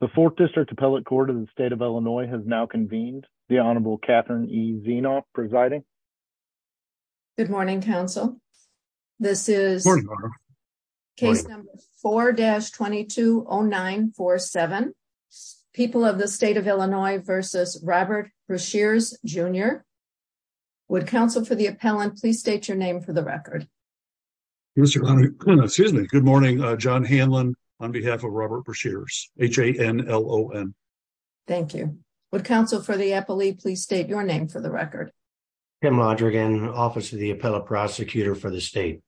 The 4th District Appellate Court of the State of Illinois has now convened. The Honorable Catherine E. Zienoff presiding. Good morning, counsel. This is case number 4-220947, People of the State of Illinois v. Robert Breshears Jr. Would counsel for the appellant please state your name for the record. Good morning, John Hanlon on behalf of Robert Breshears, H-A-N-L-O-N. Thank you. Would counsel for the appellate please state your name for the record. Kim Lodrigan, Office of the Appellate Prosecutor for the State.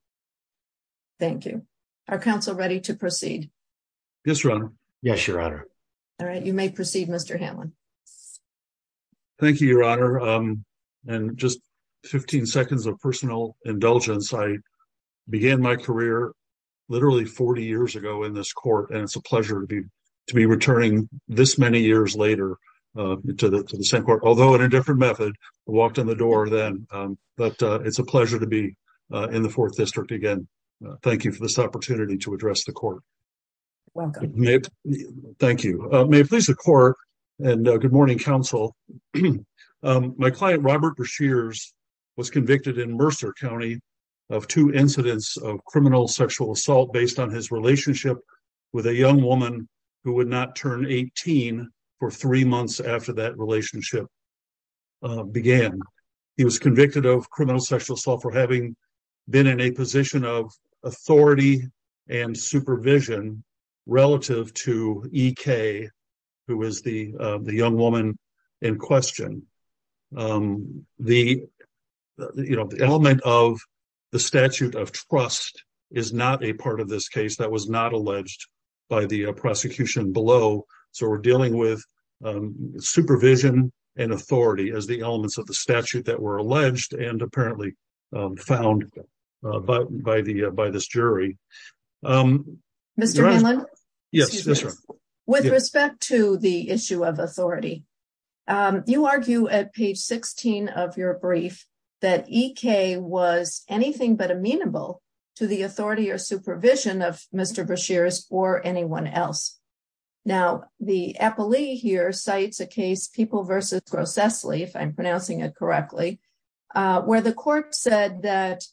Thank you. Are counsel ready to proceed? Yes, Your Honor. All right, you may proceed, Mr. Hanlon. Thank you, Your Honor. In just 15 seconds of personal indulgence, I began my career literally 40 years ago in this court. And it's a pleasure to be returning this many years later to the same court, although in a different method. I walked in the door then, but it's a pleasure to be in the 4th District again. Thank you for this opportunity to address the court. Welcome. Thank you. May it please the court and good morning, counsel. My client, Robert Breshears, was convicted in Mercer County of two incidents of criminal sexual assault based on his relationship with a young woman who would not turn 18 for three months after that relationship began. He was convicted of criminal sexual assault for having been in a position of authority and supervision relative to E.K., who is the young woman in question. The element of the statute of trust is not a part of this case that was not alleged by the prosecution below. So we're dealing with supervision and authority as the elements of the statute that were alleged and apparently found by this jury. Mr. Hanlon? Yes, Your Honor. With respect to the issue of authority, you argue at page 16 of your brief that E.K. was anything but amenable to the authority or supervision of Mr. Breshears or anyone else. Now, the appellee here cites a case, People v. Grocessly, if I'm pronouncing it correctly, where the court said that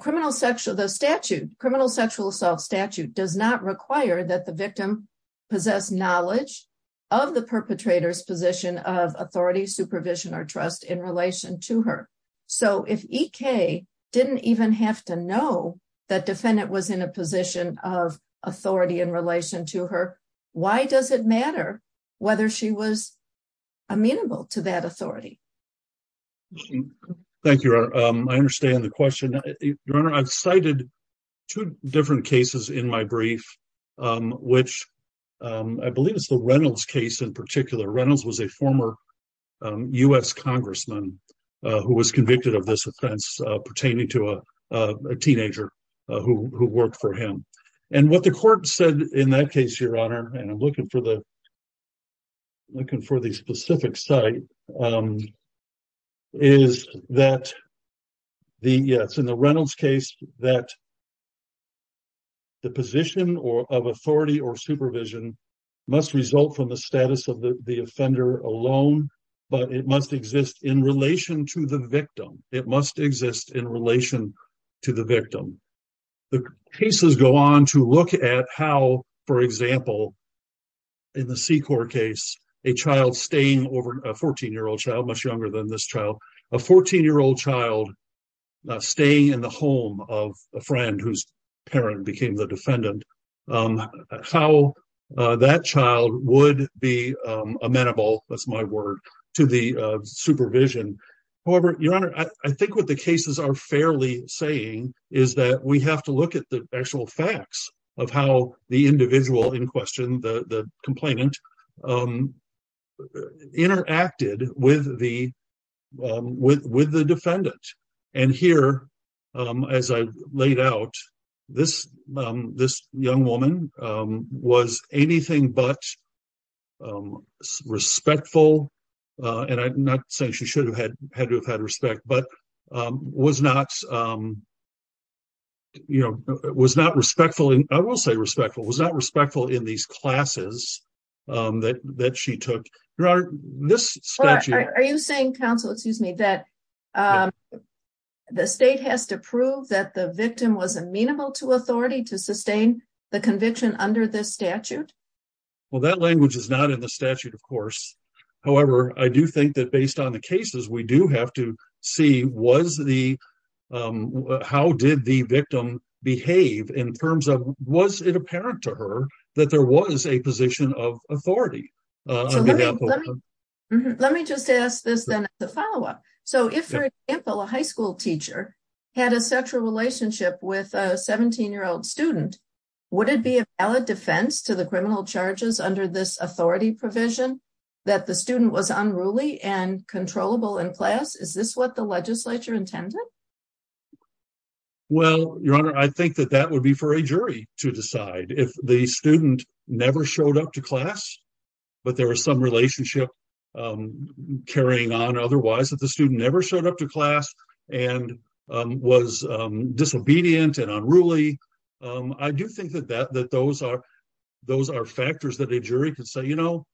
criminal sexual assault statute does not require that the victim possess knowledge of the perpetrator's position of authority, supervision, or trust in relation to her. So if E.K. didn't even have to know that defendant was in a position of authority in relation to her, why does it matter whether she was amenable to that authority? Thank you, Your Honor. I understand the question. Your Honor, I've cited two different cases in my brief, which I believe is the Reynolds case in particular. Reynolds was a former U.S. congressman who was convicted of this offense pertaining to a teenager who worked for him. And what the court said in that case, Your Honor, and I'm looking for the specific site, is that, yes, in the Reynolds case, that the position of authority or supervision must result from the status of the offender alone, but it must exist in relation to the victim. The cases go on to look at how, for example, in the Secor case, a child staying over, a 14-year-old child, much younger than this child, a 14-year-old child staying in the home of a friend whose parent became the defendant, how that child would be amenable, that's my word, to the supervision. However, Your Honor, I think what the cases are fairly saying is that we have to look at the actual facts of how the individual in question, the complainant, interacted with the defendant. And here, as I laid out, this young woman was anything but respectful, and I'm not saying she should have had to have had respect, but was not, you know, was not respectful, I will say respectful, was not respectful in these classes that she took. Are you saying, counsel, excuse me, that the state has to prove that the victim was amenable to authority to sustain the conviction under this statute? Well, that language is not in the statute, of course. However, I do think that based on the cases, we do have to see was the, how did the victim behave in terms of, was it apparent to her that there was a position of authority? Let me just ask this then as a follow-up. So if, for example, a high school teacher had a sexual relationship with a 17-year-old student, would it be a valid defense to the criminal charges under this authority provision that the student was unruly and controllable in class? Is this what the legislature intended? Well, Your Honor, I think that that would be for a jury to decide. If the student never showed up to class, but there was some relationship carrying on otherwise, if the student never showed up to class and was disobedient and unruly, I do think that those are factors that a jury could say, you know,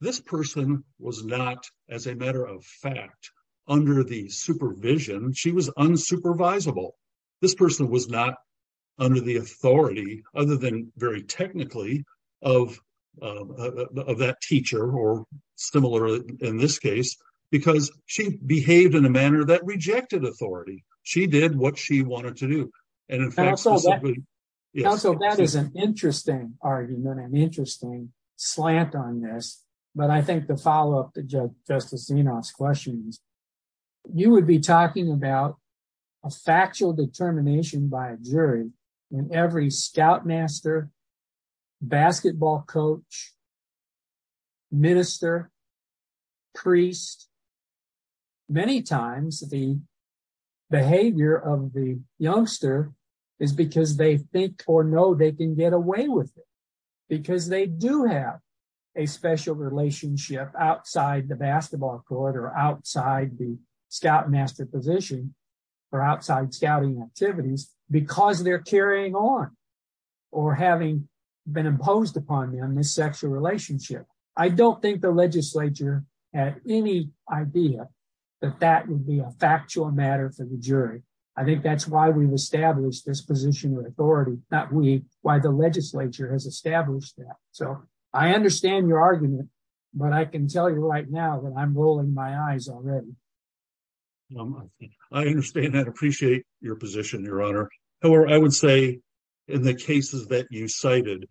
this person was not, as a matter of fact, under the supervision. She was unsupervisable. This person was not under the authority, other than very technically, of that teacher or similar in this case, because she behaved in a manner that rejected authority. She did what she wanted to do. Counsel, that is an interesting argument, an interesting slant on this, but I think the follow-up to Justice Zinoff's question is, you would be talking about a factual determination by a jury in every scoutmaster, basketball coach, minister, priest. Many times, the behavior of the youngster is because they think or know they can get away with it, because they do have a special relationship outside the basketball court or outside the scoutmaster position or outside scouting activities, because they're carrying on or having been imposed upon them this sexual relationship. I don't think the legislature had any idea that that would be a factual matter for the jury. I think that's why we've established this position of authority, not we, why the legislature has established that. So, I understand your argument, but I can tell you right now that I'm rolling my eyes already. I understand that. Appreciate your position, Your Honor. However, I would say in the cases that you cited,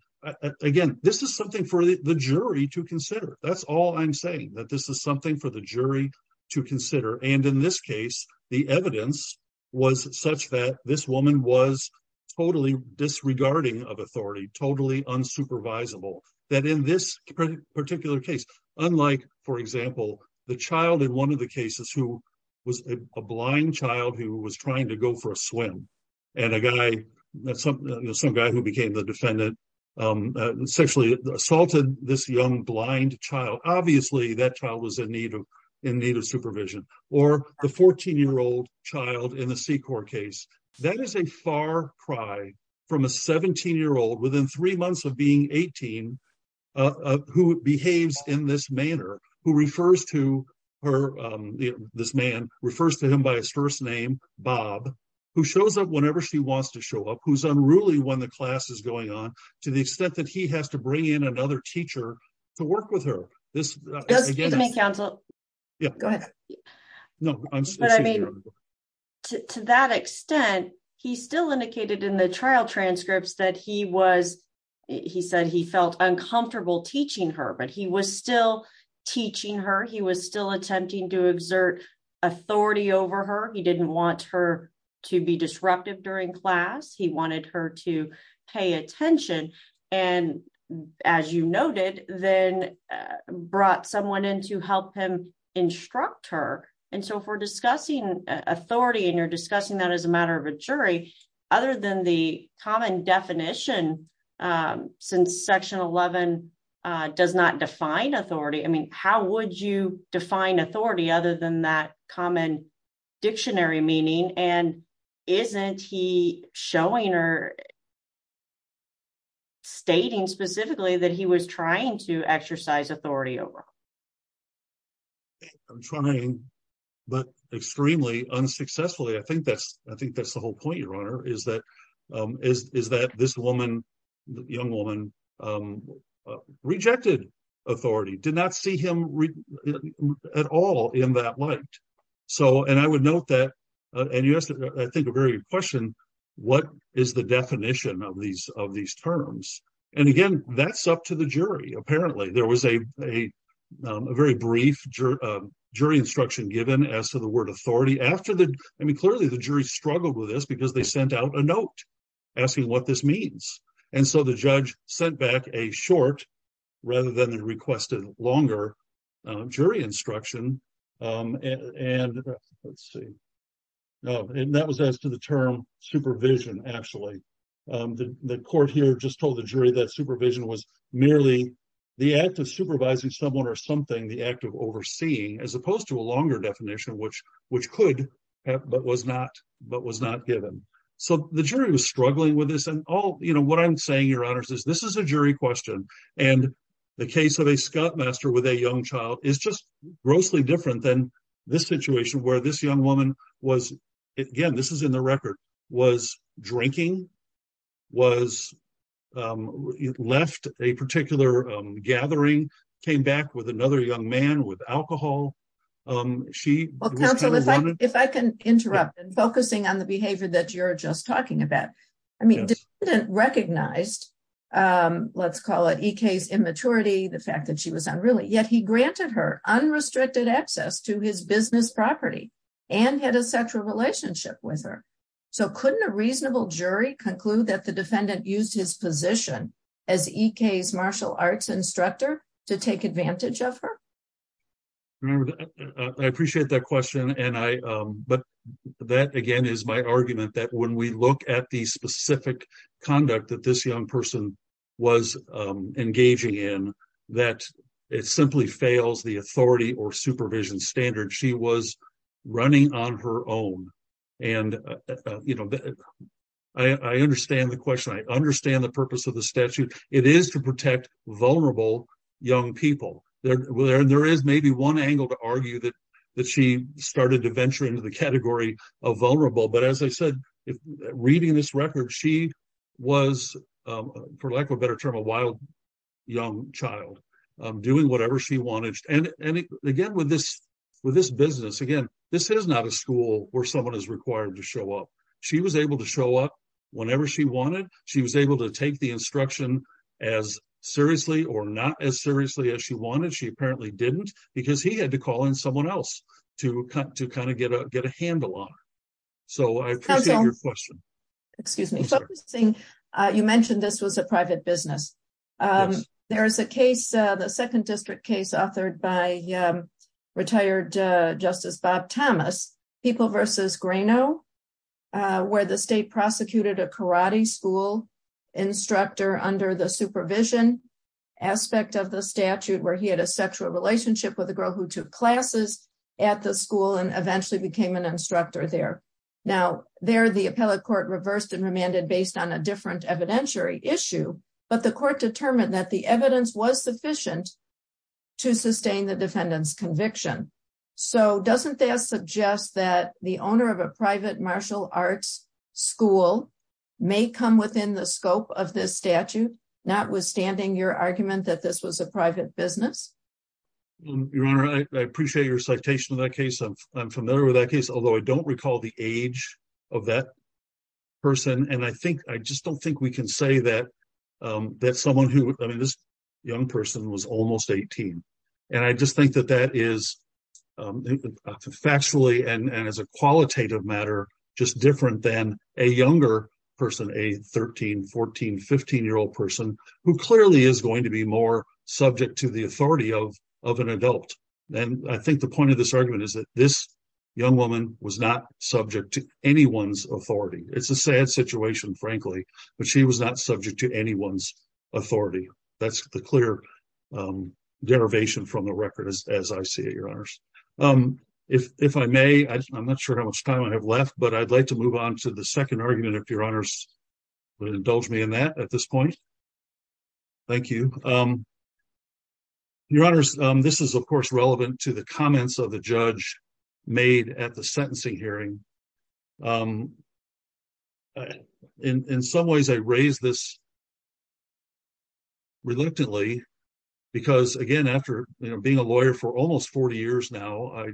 again, this is something for the jury to consider. That's all I'm saying, that this is something for the jury to consider. And in this case, the evidence was such that this woman was totally disregarding of authority, totally unsupervisable. That in this particular case, unlike, for example, the child in one of the cases who was a blind child who was trying to go for a swim, and a guy, some guy who became the defendant, sexually assaulted this young blind child. Obviously, that child was in need of supervision. Or the 14-year-old child in the C-Corps case. That is a far cry from a 17-year-old, within three months of being 18, who behaves in this manner. This man refers to him by his first name, Bob, who shows up whenever she wants to show up, who's unruly when the class is going on, to the extent that he has to bring in another teacher to work with her. Excuse me, counsel. Go ahead. To that extent, he still indicated in the trial transcripts that he was, he said he felt uncomfortable teaching her, but he was still teaching her. He was still attempting to exert authority over her. He didn't want her to be disruptive during class. He wanted her to pay attention and, as you noted, then brought someone in to help him instruct her. And so if we're discussing authority and you're discussing that as a matter of a jury, other than the common definition, since Section 11 does not define authority, I mean, how would you define authority other than that common dictionary meaning? And isn't he showing or stating specifically that he was trying to exercise authority over her? I'm trying, but extremely unsuccessfully. I think that's the whole point, Your Honor, is that this woman, young woman, rejected authority, did not see him at all in that light. And I would note that, and you asked, I think, a very good question, what is the definition of these terms? And, again, that's up to the jury, apparently. There was a very brief jury instruction given as to the word authority. I mean, clearly the jury struggled with this because they sent out a note asking what this means. And so the judge sent back a short, rather than the requested longer, jury instruction, and that was as to the term supervision, actually. The court here just told the jury that supervision was merely the act of supervising someone or something, the act of overseeing, as opposed to a longer definition, which could but was not given. So the jury was struggling with this. And what I'm saying, Your Honor, is this is a jury question. And the case of a scoutmaster with a young child is just grossly different than this situation where this young woman was, again, this is in the record, was drinking, was left a particular gathering, came back with another young man with alcohol. Well, counsel, if I can interrupt in focusing on the behavior that you're just talking about. I mean, the defendant recognized, let's call it E.K.'s immaturity, the fact that she was unruly, yet he granted her unrestricted access to his business property and had a sexual relationship with her. So couldn't a reasonable jury conclude that the defendant used his position as E.K.'s martial arts instructor to take advantage of her? I appreciate that question. But that, again, is my argument that when we look at the specific conduct that this young person was engaging in, that it simply fails the authority or supervision standard. She was running on her own. And, you know, I understand the question. I understand the purpose of the statute. It is to protect vulnerable young people. There is maybe one angle to argue that she started to venture into the category of vulnerable. But as I said, reading this record, she was, for lack of a better term, a wild young child doing whatever she wanted. And again, with this business, again, this is not a school where someone is required to show up. She was able to show up whenever she wanted. She was able to take the instruction as seriously or not as seriously as she wanted. She apparently didn't because he had to call in someone else to kind of get a handle on it. So I appreciate your question. Excuse me. You mentioned this was a private business. There is a case, the second district case authored by retired Justice Bob Thomas, People vs. Grano, where the state prosecuted a karate school instructor under the supervision aspect of the statute where he had a sexual relationship with a girl who took classes at the school and eventually became an instructor there. Now, there the appellate court reversed and remanded based on a different evidentiary issue. But the court determined that the evidence was sufficient to sustain the defendant's conviction. So doesn't that suggest that the owner of a private martial arts school may come within the scope of this statute, notwithstanding your argument that this was a private business? Your Honor, I appreciate your citation of that case. I'm familiar with that case, although I don't recall the age of that person. And I think I just don't think we can say that someone who, I mean, this young person was almost 18. And I just think that that is factually and as a qualitative matter just different than a younger person, a 13, 14, 15-year-old person who clearly is going to be more subject to the authority of an adult. And I think the point of this argument is that this young woman was not subject to anyone's authority. It's a sad situation, frankly, but she was not subject to anyone's authority. That's the clear derivation from the record, as I see it, Your Honors. If I may, I'm not sure how much time I have left, but I'd like to move on to the second argument, if Your Honors would indulge me in that at this point. Thank you. Your Honors, this is, of course, relevant to the comments of the judge made at the sentencing hearing. In some ways, I raise this reluctantly because, again, after being a lawyer for almost 40 years now, I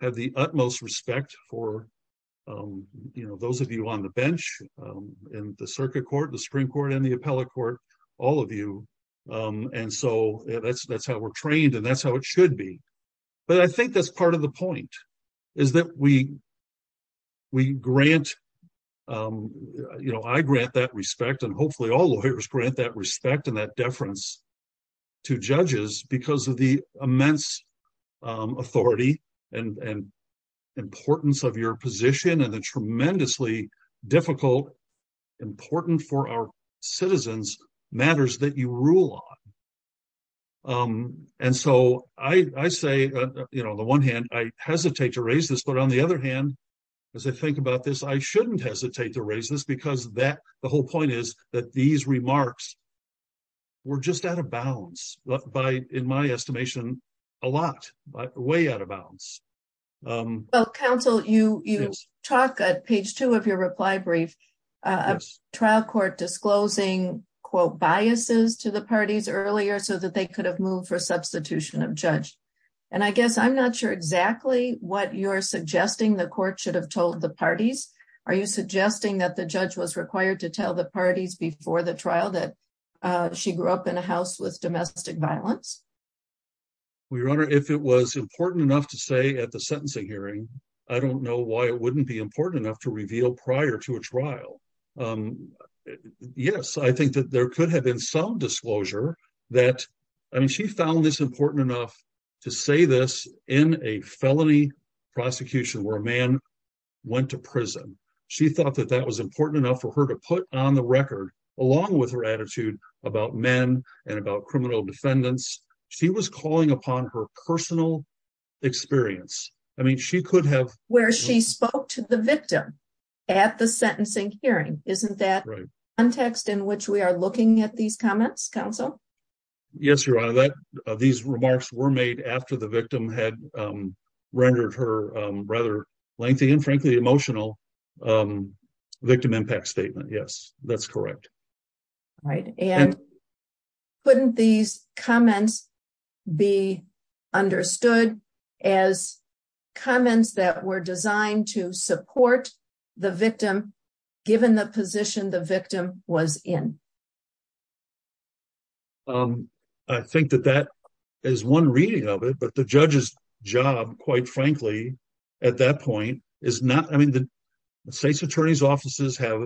have the utmost respect for those of you on the bench in the circuit court, the Supreme Court, and the appellate court, all of you. And so that's how we're trained and that's how it should be. But I think that's part of the point, is that we grant, you know, I grant that respect and hopefully all lawyers grant that respect and that deference to judges because of the immense authority and importance of your position and the tremendously difficult, important for our citizens, matters that you rule on. And so I say, you know, on the one hand, I hesitate to raise this, but on the other hand, as I think about this, I shouldn't hesitate to raise this because the whole point is that these remarks were just out of balance, in my estimation, a lot, way out of balance. Well, counsel, you talk at page two of your reply brief, a trial court disclosing, quote, biases to the parties earlier so that they could have moved for substitution of judge. And I guess I'm not sure exactly what you're suggesting the court should have told the parties. Are you suggesting that the judge was required to tell the parties before the trial that she grew up in a house with domestic violence? Your Honor, if it was important enough to say at the sentencing hearing, I don't know why it wouldn't be important enough to reveal prior to a trial. Yes, I think that there could have been some disclosure that, I mean, she found this important enough to say this in a felony prosecution where a man went to prison. She thought that that was important enough for her to put on the record, along with her attitude about men and about criminal defendants. She was calling upon her personal experience. I mean, she could have... Where she spoke to the victim at the sentencing hearing. Isn't that the context in which we are looking at these comments, counsel? Yes, Your Honor. These remarks were made after the victim had rendered her rather lengthy and frankly emotional victim impact statement. Yes, that's correct. Right. And couldn't these comments be understood as comments that were designed to support the victim, given the position the victim was in? I think that that is one reading of it, but the judge's job, quite frankly, at that point, is not... I mean, the state's attorney's offices have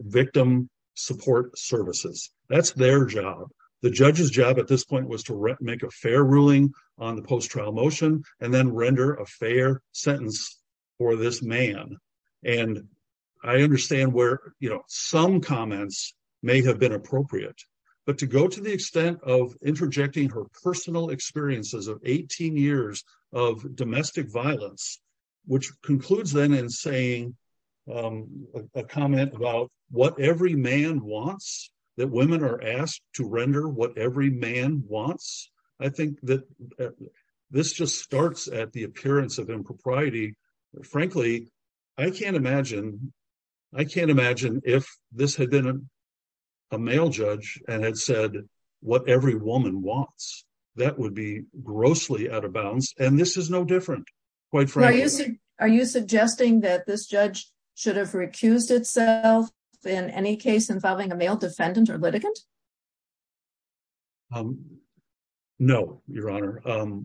victim support services. That's their job. The judge's job at this point was to make a fair ruling on the post-trial motion and then render a fair sentence for this man. And I understand where some comments may have been appropriate. But to go to the extent of interjecting her personal experiences of 18 years of domestic violence, which concludes then in saying a comment about what every man wants, that women are asked to render what every man wants. I think that this just starts at the appearance of impropriety. Frankly, I can't imagine if this had been a male judge and had said what every woman wants. That would be grossly out of bounds. And this is no different, quite frankly. Are you suggesting that this judge should have recused itself in any case involving a male defendant or litigant? No, Your Honor.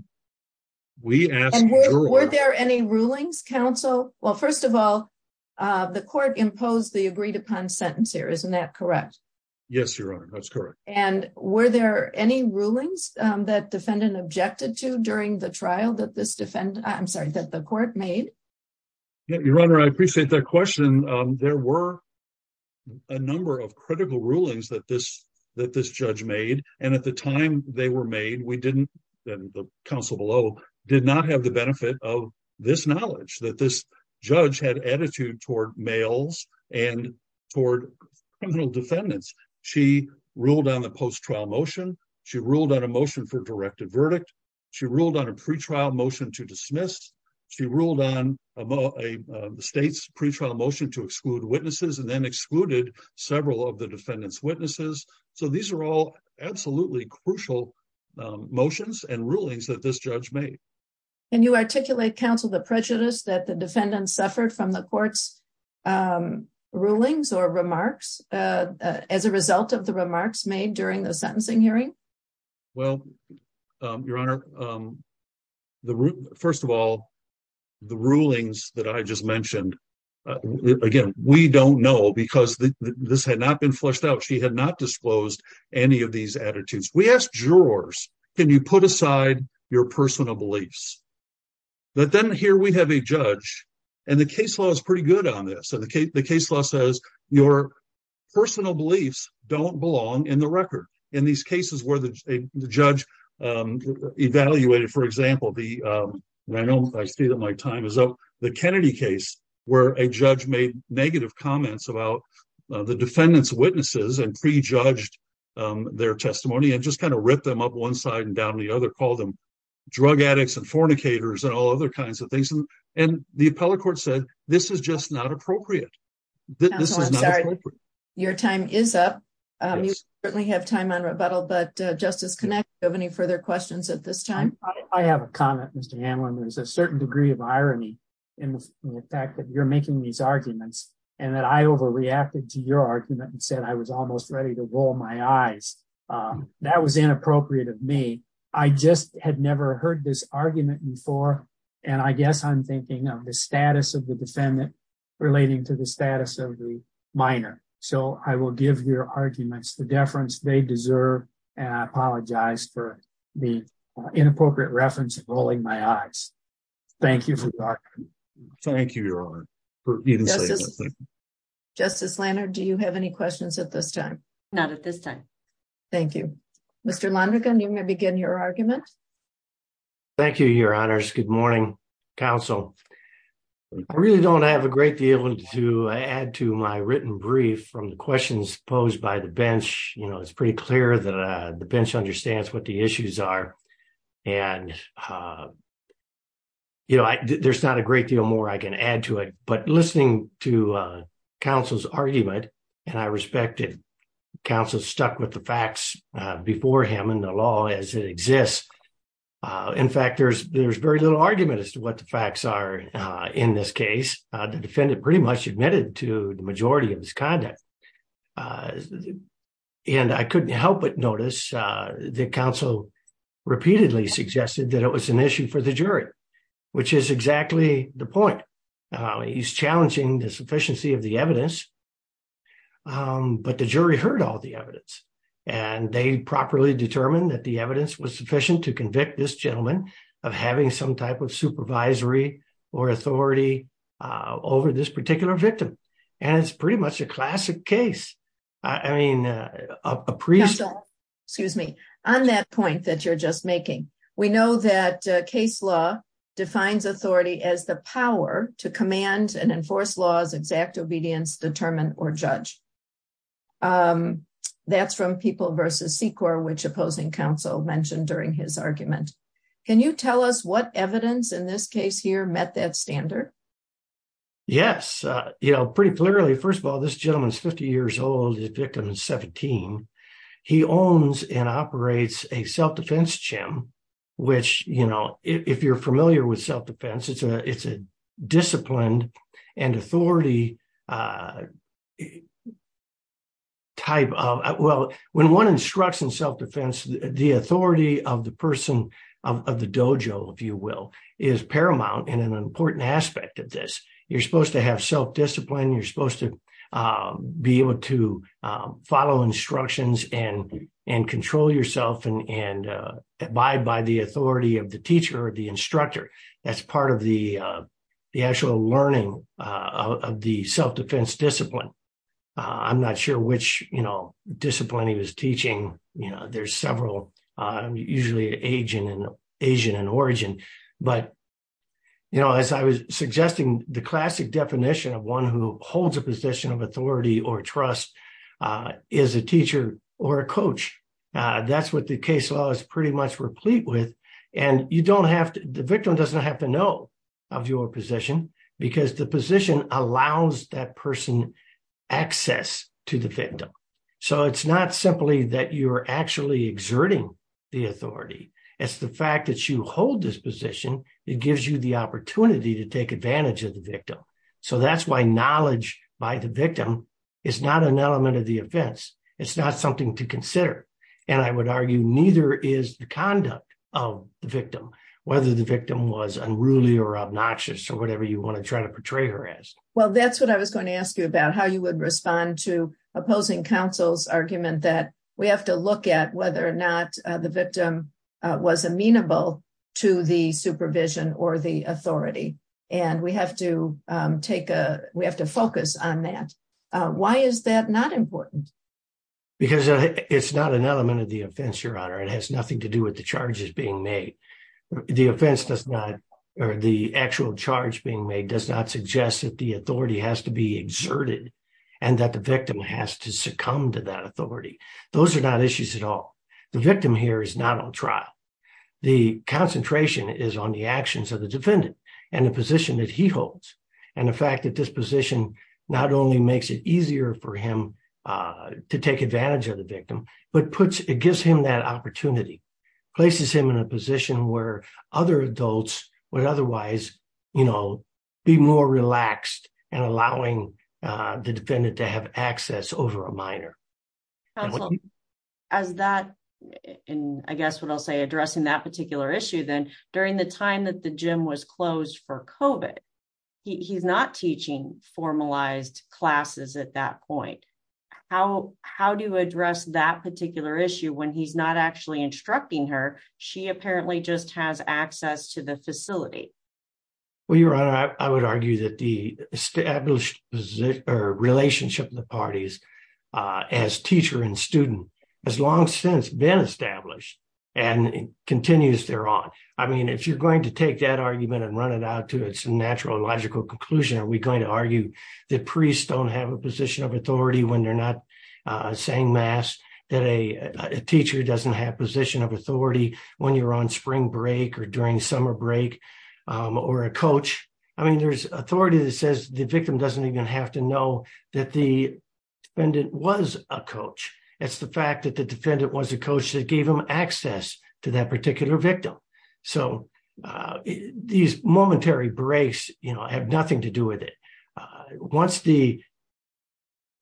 We asked... And were there any rulings, counsel? Well, first of all, the court imposed the agreed-upon sentence here. Isn't that correct? Yes, Your Honor. That's correct. And were there any rulings that defendant objected to during the trial that this defendant... I'm sorry, that the court made? Your Honor, I appreciate that question. There were a number of critical rulings that this judge made. And at the time they were made, we didn't, the counsel below, did not have the benefit of this knowledge that this judge had attitude toward males and toward criminal defendants. She ruled on the post-trial motion. She ruled on a motion for directed verdict. She ruled on a pretrial motion to dismiss. She ruled on a state's pretrial motion to exclude witnesses and then excluded several of the defendant's witnesses. So these are all absolutely crucial motions and rulings that this judge made. Can you articulate, counsel, the prejudice that the defendant suffered from the court's rulings or remarks as a result of the remarks made during the sentencing hearing? Well, Your Honor, first of all, the rulings that I just mentioned, again, we don't know because this had not been fleshed out. She had not disclosed any of these attitudes. We asked jurors, can you put aside your personal beliefs? But then here we have a judge and the case law is pretty good on this. So the case law says your personal beliefs don't belong in the record. In these cases where the judge evaluated, for example, the Kennedy case where a judge made negative comments about the defendant's witnesses and prejudged their testimony and just kind of ripped them up one side and down the other, called them drug addicts and fornicators and all other kinds of things. And the appellate court said this is just not appropriate. Counsel, I'm sorry, your time is up. You certainly have time on rebuttal, but Justice Connick, do you have any further questions at this time? I have a comment, Mr. Hanlon. There's a certain degree of irony in the fact that you're making these arguments and that I overreacted to your argument and said I was almost ready to roll my eyes. That was inappropriate of me. I just had never heard this argument before, and I guess I'm thinking of the status of the defendant relating to the status of the minor. So I will give your arguments the deference they deserve, and I apologize for the inappropriate reference of rolling my eyes. Thank you for talking. Thank you, Your Honor. Justice Lanard, do you have any questions at this time? Not at this time. Thank you. Mr. Lonergan, you may begin your argument. Thank you, Your Honors. Good morning, Counsel. I really don't have a great deal to add to my written brief from the questions posed by the bench. It's pretty clear that the bench understands what the issues are, and there's not a great deal more I can add to it. But listening to Counsel's argument, and I respect that Counsel stuck with the facts before him and the law as it exists. In fact, there's very little argument as to what the facts are in this case. The defendant pretty much admitted to the majority of his conduct. And I couldn't help but notice that Counsel repeatedly suggested that it was an issue for the jury, which is exactly the point. He's challenging the sufficiency of the evidence. But the jury heard all the evidence, and they properly determined that the evidence was sufficient to convict this gentleman of having some type of supervisory or authority over this particular victim. And it's pretty much a classic case. Counsel, excuse me. On that point that you're just making, we know that case law defines authority as the power to command and enforce laws, exact obedience, determine, or judge. That's from People v. Secor, which opposing counsel mentioned during his argument. Can you tell us what evidence in this case here met that standard? Yes. You know, pretty clearly, first of all, this gentleman's 50 years old, his victim is 17. He owns and operates a self-defense gym, which, you know, if you're familiar with self-defense, it's a disciplined and authority type of, well, when one instructs in self-defense, the authority of the person of the dojo, if you will, is paramount and an important aspect. You're supposed to have self-discipline, you're supposed to be able to follow instructions and control yourself and abide by the authority of the teacher or the instructor. That's part of the actual learning of the self-defense discipline. I'm not sure which, you know, discipline he was teaching. You know, there's several, usually Asian in origin. But, you know, as I was suggesting, the classic definition of one who holds a position of authority or trust is a teacher or a coach. That's what the case law is pretty much replete with. And you don't have to, the victim doesn't have to know of your position because the position allows that person access to the victim. So it's not simply that you're actually exerting the authority. It's the fact that you hold this position. It gives you the opportunity to take advantage of the victim. So that's why knowledge by the victim is not an element of the offense. It's not something to consider. And I would argue neither is the conduct of the victim, whether the victim was unruly or obnoxious or whatever you want to try to portray her as. Well, that's what I was going to ask you about, how you would respond to opposing counsel's argument that we have to look at whether or not the victim was amenable to the supervision or the authority. And we have to take a, we have to focus on that. Why is that not important? Because it's not an element of the offense, Your Honor. It has nothing to do with the charges being made. The offense does not, or the actual charge being made does not suggest that the authority has to be exerted and that the victim has to succumb to that authority. Those are not issues at all. The victim here is not on trial. The concentration is on the actions of the defendant and the position that he holds. And the fact that this position not only makes it easier for him to take advantage of the victim, but puts, it gives him that opportunity, places him in a position where other adults would otherwise, you know, be more relaxed and allowing the defendant to have access over a minor. As that, and I guess what I'll say addressing that particular issue then, during the time that the gym was closed for COVID, he's not teaching formalized classes at that point. How, how do you address that particular issue when he's not actually instructing her, she apparently just has access to the facility. Well, Your Honor, I would argue that the established relationship of the parties as teacher and student has long since been established and continues there on. I mean, if you're going to take that argument and run it out to its natural logical conclusion, are we going to argue that priests don't have a position of authority when they're not saying mass, that a teacher doesn't have position of authority when you're on spring break or during summer break? Or a coach. I mean, there's authority that says the victim doesn't even have to know that the defendant was a coach. It's the fact that the defendant was a coach that gave him access to that particular victim. So, these momentary breaks, you know, have nothing to do with it. Once the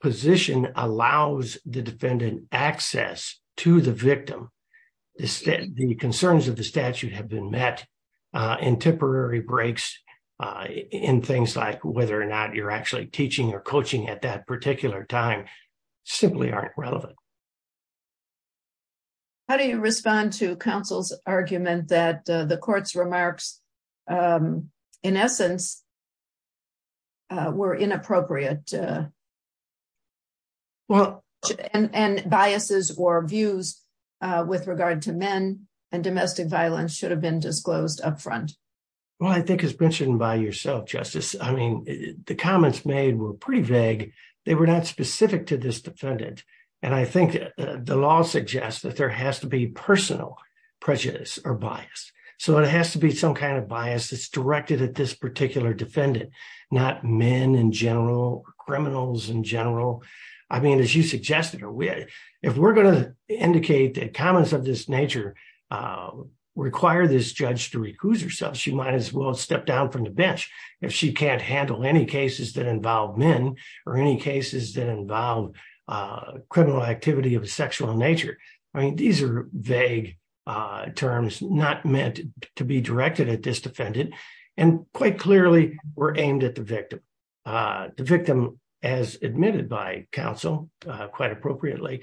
position allows the defendant access to the victim, the concerns of the statute have been met and temporary breaks in things like whether or not you're actually teaching or coaching at that particular time simply aren't relevant. How do you respond to counsel's argument that the court's remarks, in essence, were inappropriate? Well, and biases or views with regard to men and domestic violence should have been disclosed up front. Well, I think as mentioned by yourself, Justice, I mean, the comments made were pretty vague. They were not specific to this defendant. And I think the law suggests that there has to be personal prejudice or bias. So, it has to be some kind of bias that's directed at this particular defendant, not men in general, criminals in general. I mean, as you suggested, if we're going to indicate that comments of this nature require this judge to recuse herself, she might as well step down from the bench if she can't handle any cases that involve men or any cases that involve criminal activity of a sexual nature. I mean, these are vague terms not meant to be directed at this defendant. And quite clearly, we're aimed at the victim. The victim, as admitted by counsel, quite appropriately,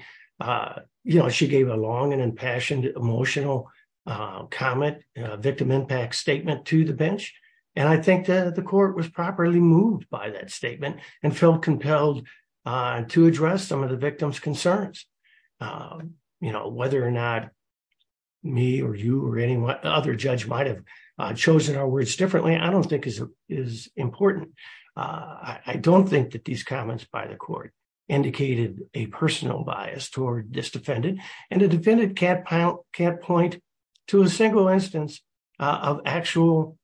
you know, she gave a long and impassioned emotional comment, victim impact statement to the bench. And I think that the court was properly moved by that statement and felt compelled to address some of the victim's concerns. You know, whether or not me or you or any other judge might have chosen our words differently, I don't think is important. I don't think that these comments by the court indicated a personal bias toward this defendant. And the defendant can't point to a single instance of actual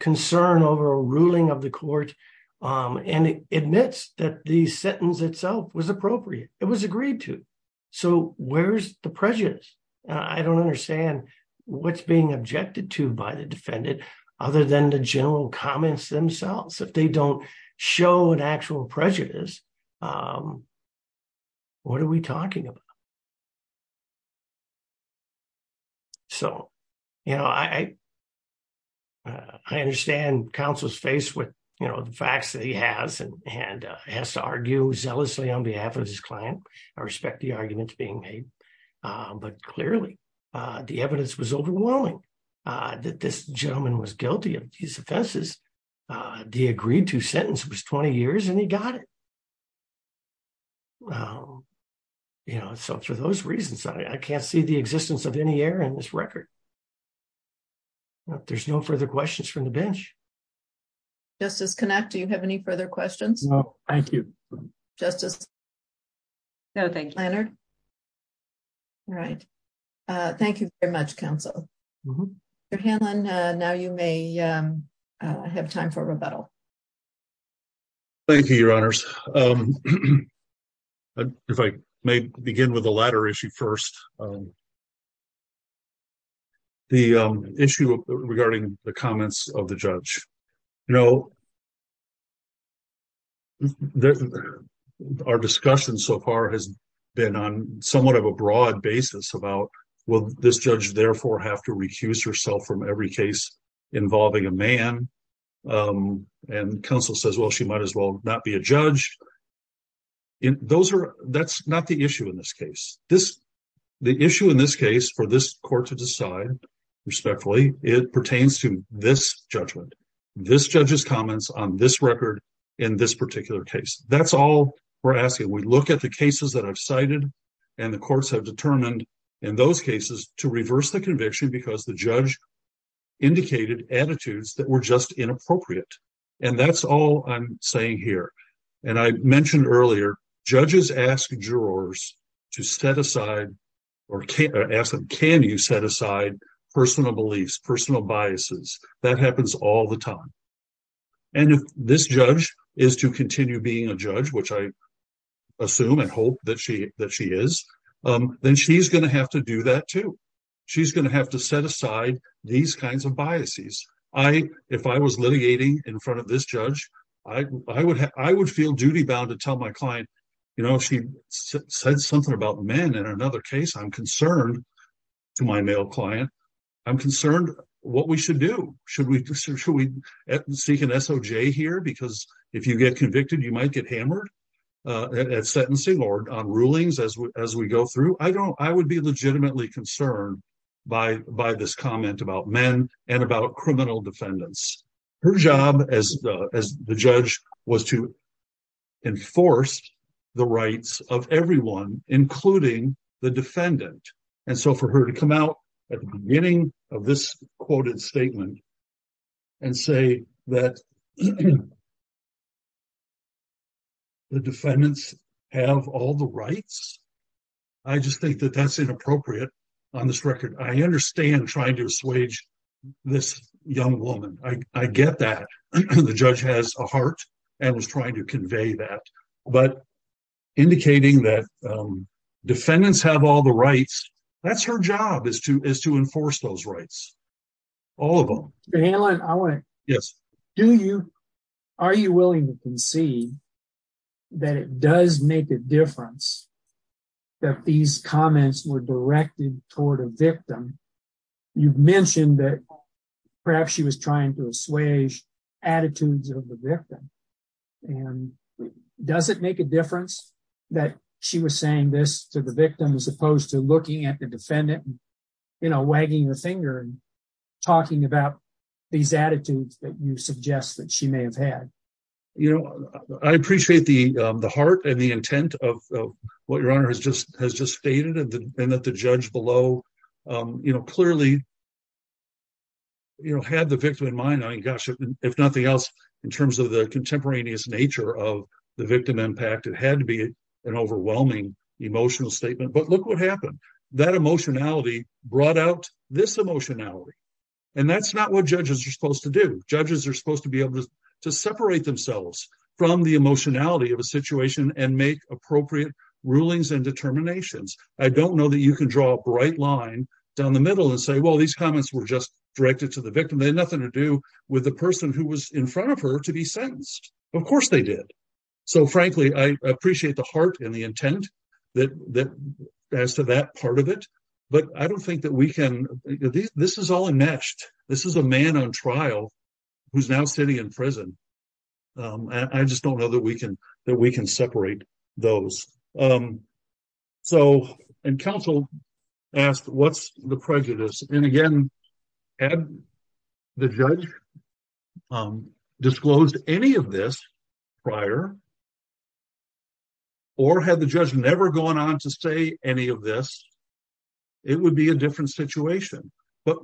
concern over a ruling of the court and admits that the sentence itself was appropriate. It was agreed to. So where's the prejudice? I don't understand what's being objected to by the defendant, other than the general comments themselves. If they don't show an actual prejudice, what are we talking about? So, you know, I understand counsel's face with, you know, the facts that he has and has to argue zealously on behalf of his client. I respect the arguments being made. But clearly, the evidence was overwhelming that this gentleman was guilty of these offenses. The agreed to sentence was 20 years and he got it. Well, you know, so for those reasons, I can't see the existence of any error in this record. There's no further questions from the bench. Justice Connacht, do you have any further questions? No, thank you. Justice Leonard? No, thank you. All right. Thank you very much, counsel. Mr. Hanlon, now you may have time for rebuttal. Thank you, Your Honors. If I may begin with the latter issue first. The issue regarding the comments of the judge. You know, our discussion so far has been on somewhat of a broad basis about, will this judge therefore have to recuse herself from every case involving a man? And counsel says, well, she might as well not be a judge. That's not the issue in this case. The issue in this case for this court to decide respectfully, it pertains to this judgment. This judge's comments on this record in this particular case. That's all we're asking. We look at the cases that I've cited and the courts have determined in those cases to reverse the conviction because the judge indicated attitudes that were just inappropriate. And that's all I'm saying here. And I mentioned earlier, judges ask jurors to set aside or ask them, can you set aside personal beliefs, personal biases? That happens all the time. And if this judge is to continue being a judge, which I assume and hope that she is, then she's going to have to do that, too. She's going to have to set aside these kinds of biases. If I was litigating in front of this judge, I would feel duty bound to tell my client, you know, she said something about men in another case. I'm concerned to my male client. I'm concerned what we should do. Should we seek an SOJ here? Because if you get convicted, you might get hammered at sentencing or on rulings as we go through. I would be legitimately concerned by this comment about men and about criminal defendants. Her job as the judge was to enforce the rights of everyone, including the defendant. And so for her to come out at the beginning of this quoted statement and say that the defendants have all the rights, I just think that that's inappropriate on this record. I understand trying to assuage this young woman. I get that. The judge has a heart and was trying to convey that. But indicating that defendants have all the rights, that's her job is to enforce those rights. All of them. Yes. Do you, are you willing to concede that it does make a difference that these comments were directed toward a victim? You've mentioned that perhaps she was trying to assuage attitudes of the victim. Does it make a difference that she was saying this to the victim as opposed to looking at the defendant, you know, wagging the finger and talking about these attitudes that you suggest that she may have had? I appreciate the heart and the intent of what your honor has just stated and that the judge below, you know, clearly, you know, had the victim in mind. I mean, gosh, if nothing else, in terms of the contemporaneous nature of the victim impact, it had to be an overwhelming emotional statement. But look what happened. That emotionality brought out this emotionality. And that's not what judges are supposed to do. Judges are supposed to be able to separate themselves from the emotionality of a situation and make appropriate rulings and determinations. I don't know that you can draw a bright line down the middle and say, well, these comments were just directed to the victim. They had nothing to do with the person who was in front of her to be sentenced. Of course they did. So, frankly, I appreciate the heart and the intent that as to that part of it. But I don't think that we can, this is all enmeshed. This is a man on trial who's now sitting in prison. I just don't know that we can separate those. So, and counsel asked, what's the prejudice? And, again, had the judge disclosed any of this prior or had the judge never gone on to say any of this, it would be a different situation. But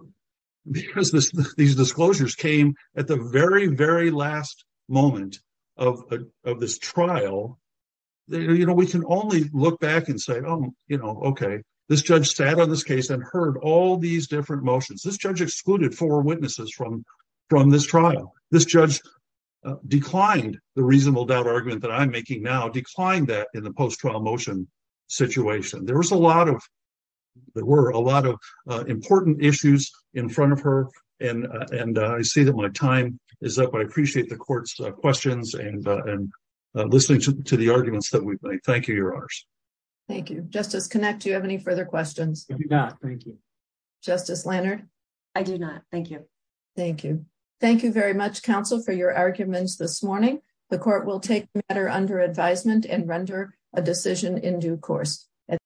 because these disclosures came at the very, very last moment of this trial, you know, we can only look back and say, oh, you know, okay, this judge sat on this case and heard all these different motions. This judge excluded four witnesses from this trial. This judge declined the reasonable doubt argument that I'm making now, declined that in the post-trial motion situation. There was a lot of, there were a lot of important issues in front of her. And I see that my time is up. I appreciate the court's questions and listening to the arguments that we've made. Thank you, Your Honors. Thank you. Justice Connacht, do you have any further questions? I do not, thank you. Justice Lannert? I do not, thank you. Thank you. Thank you very much, counsel, for your arguments this morning. The court will take matter under advisement and render a decision in due course.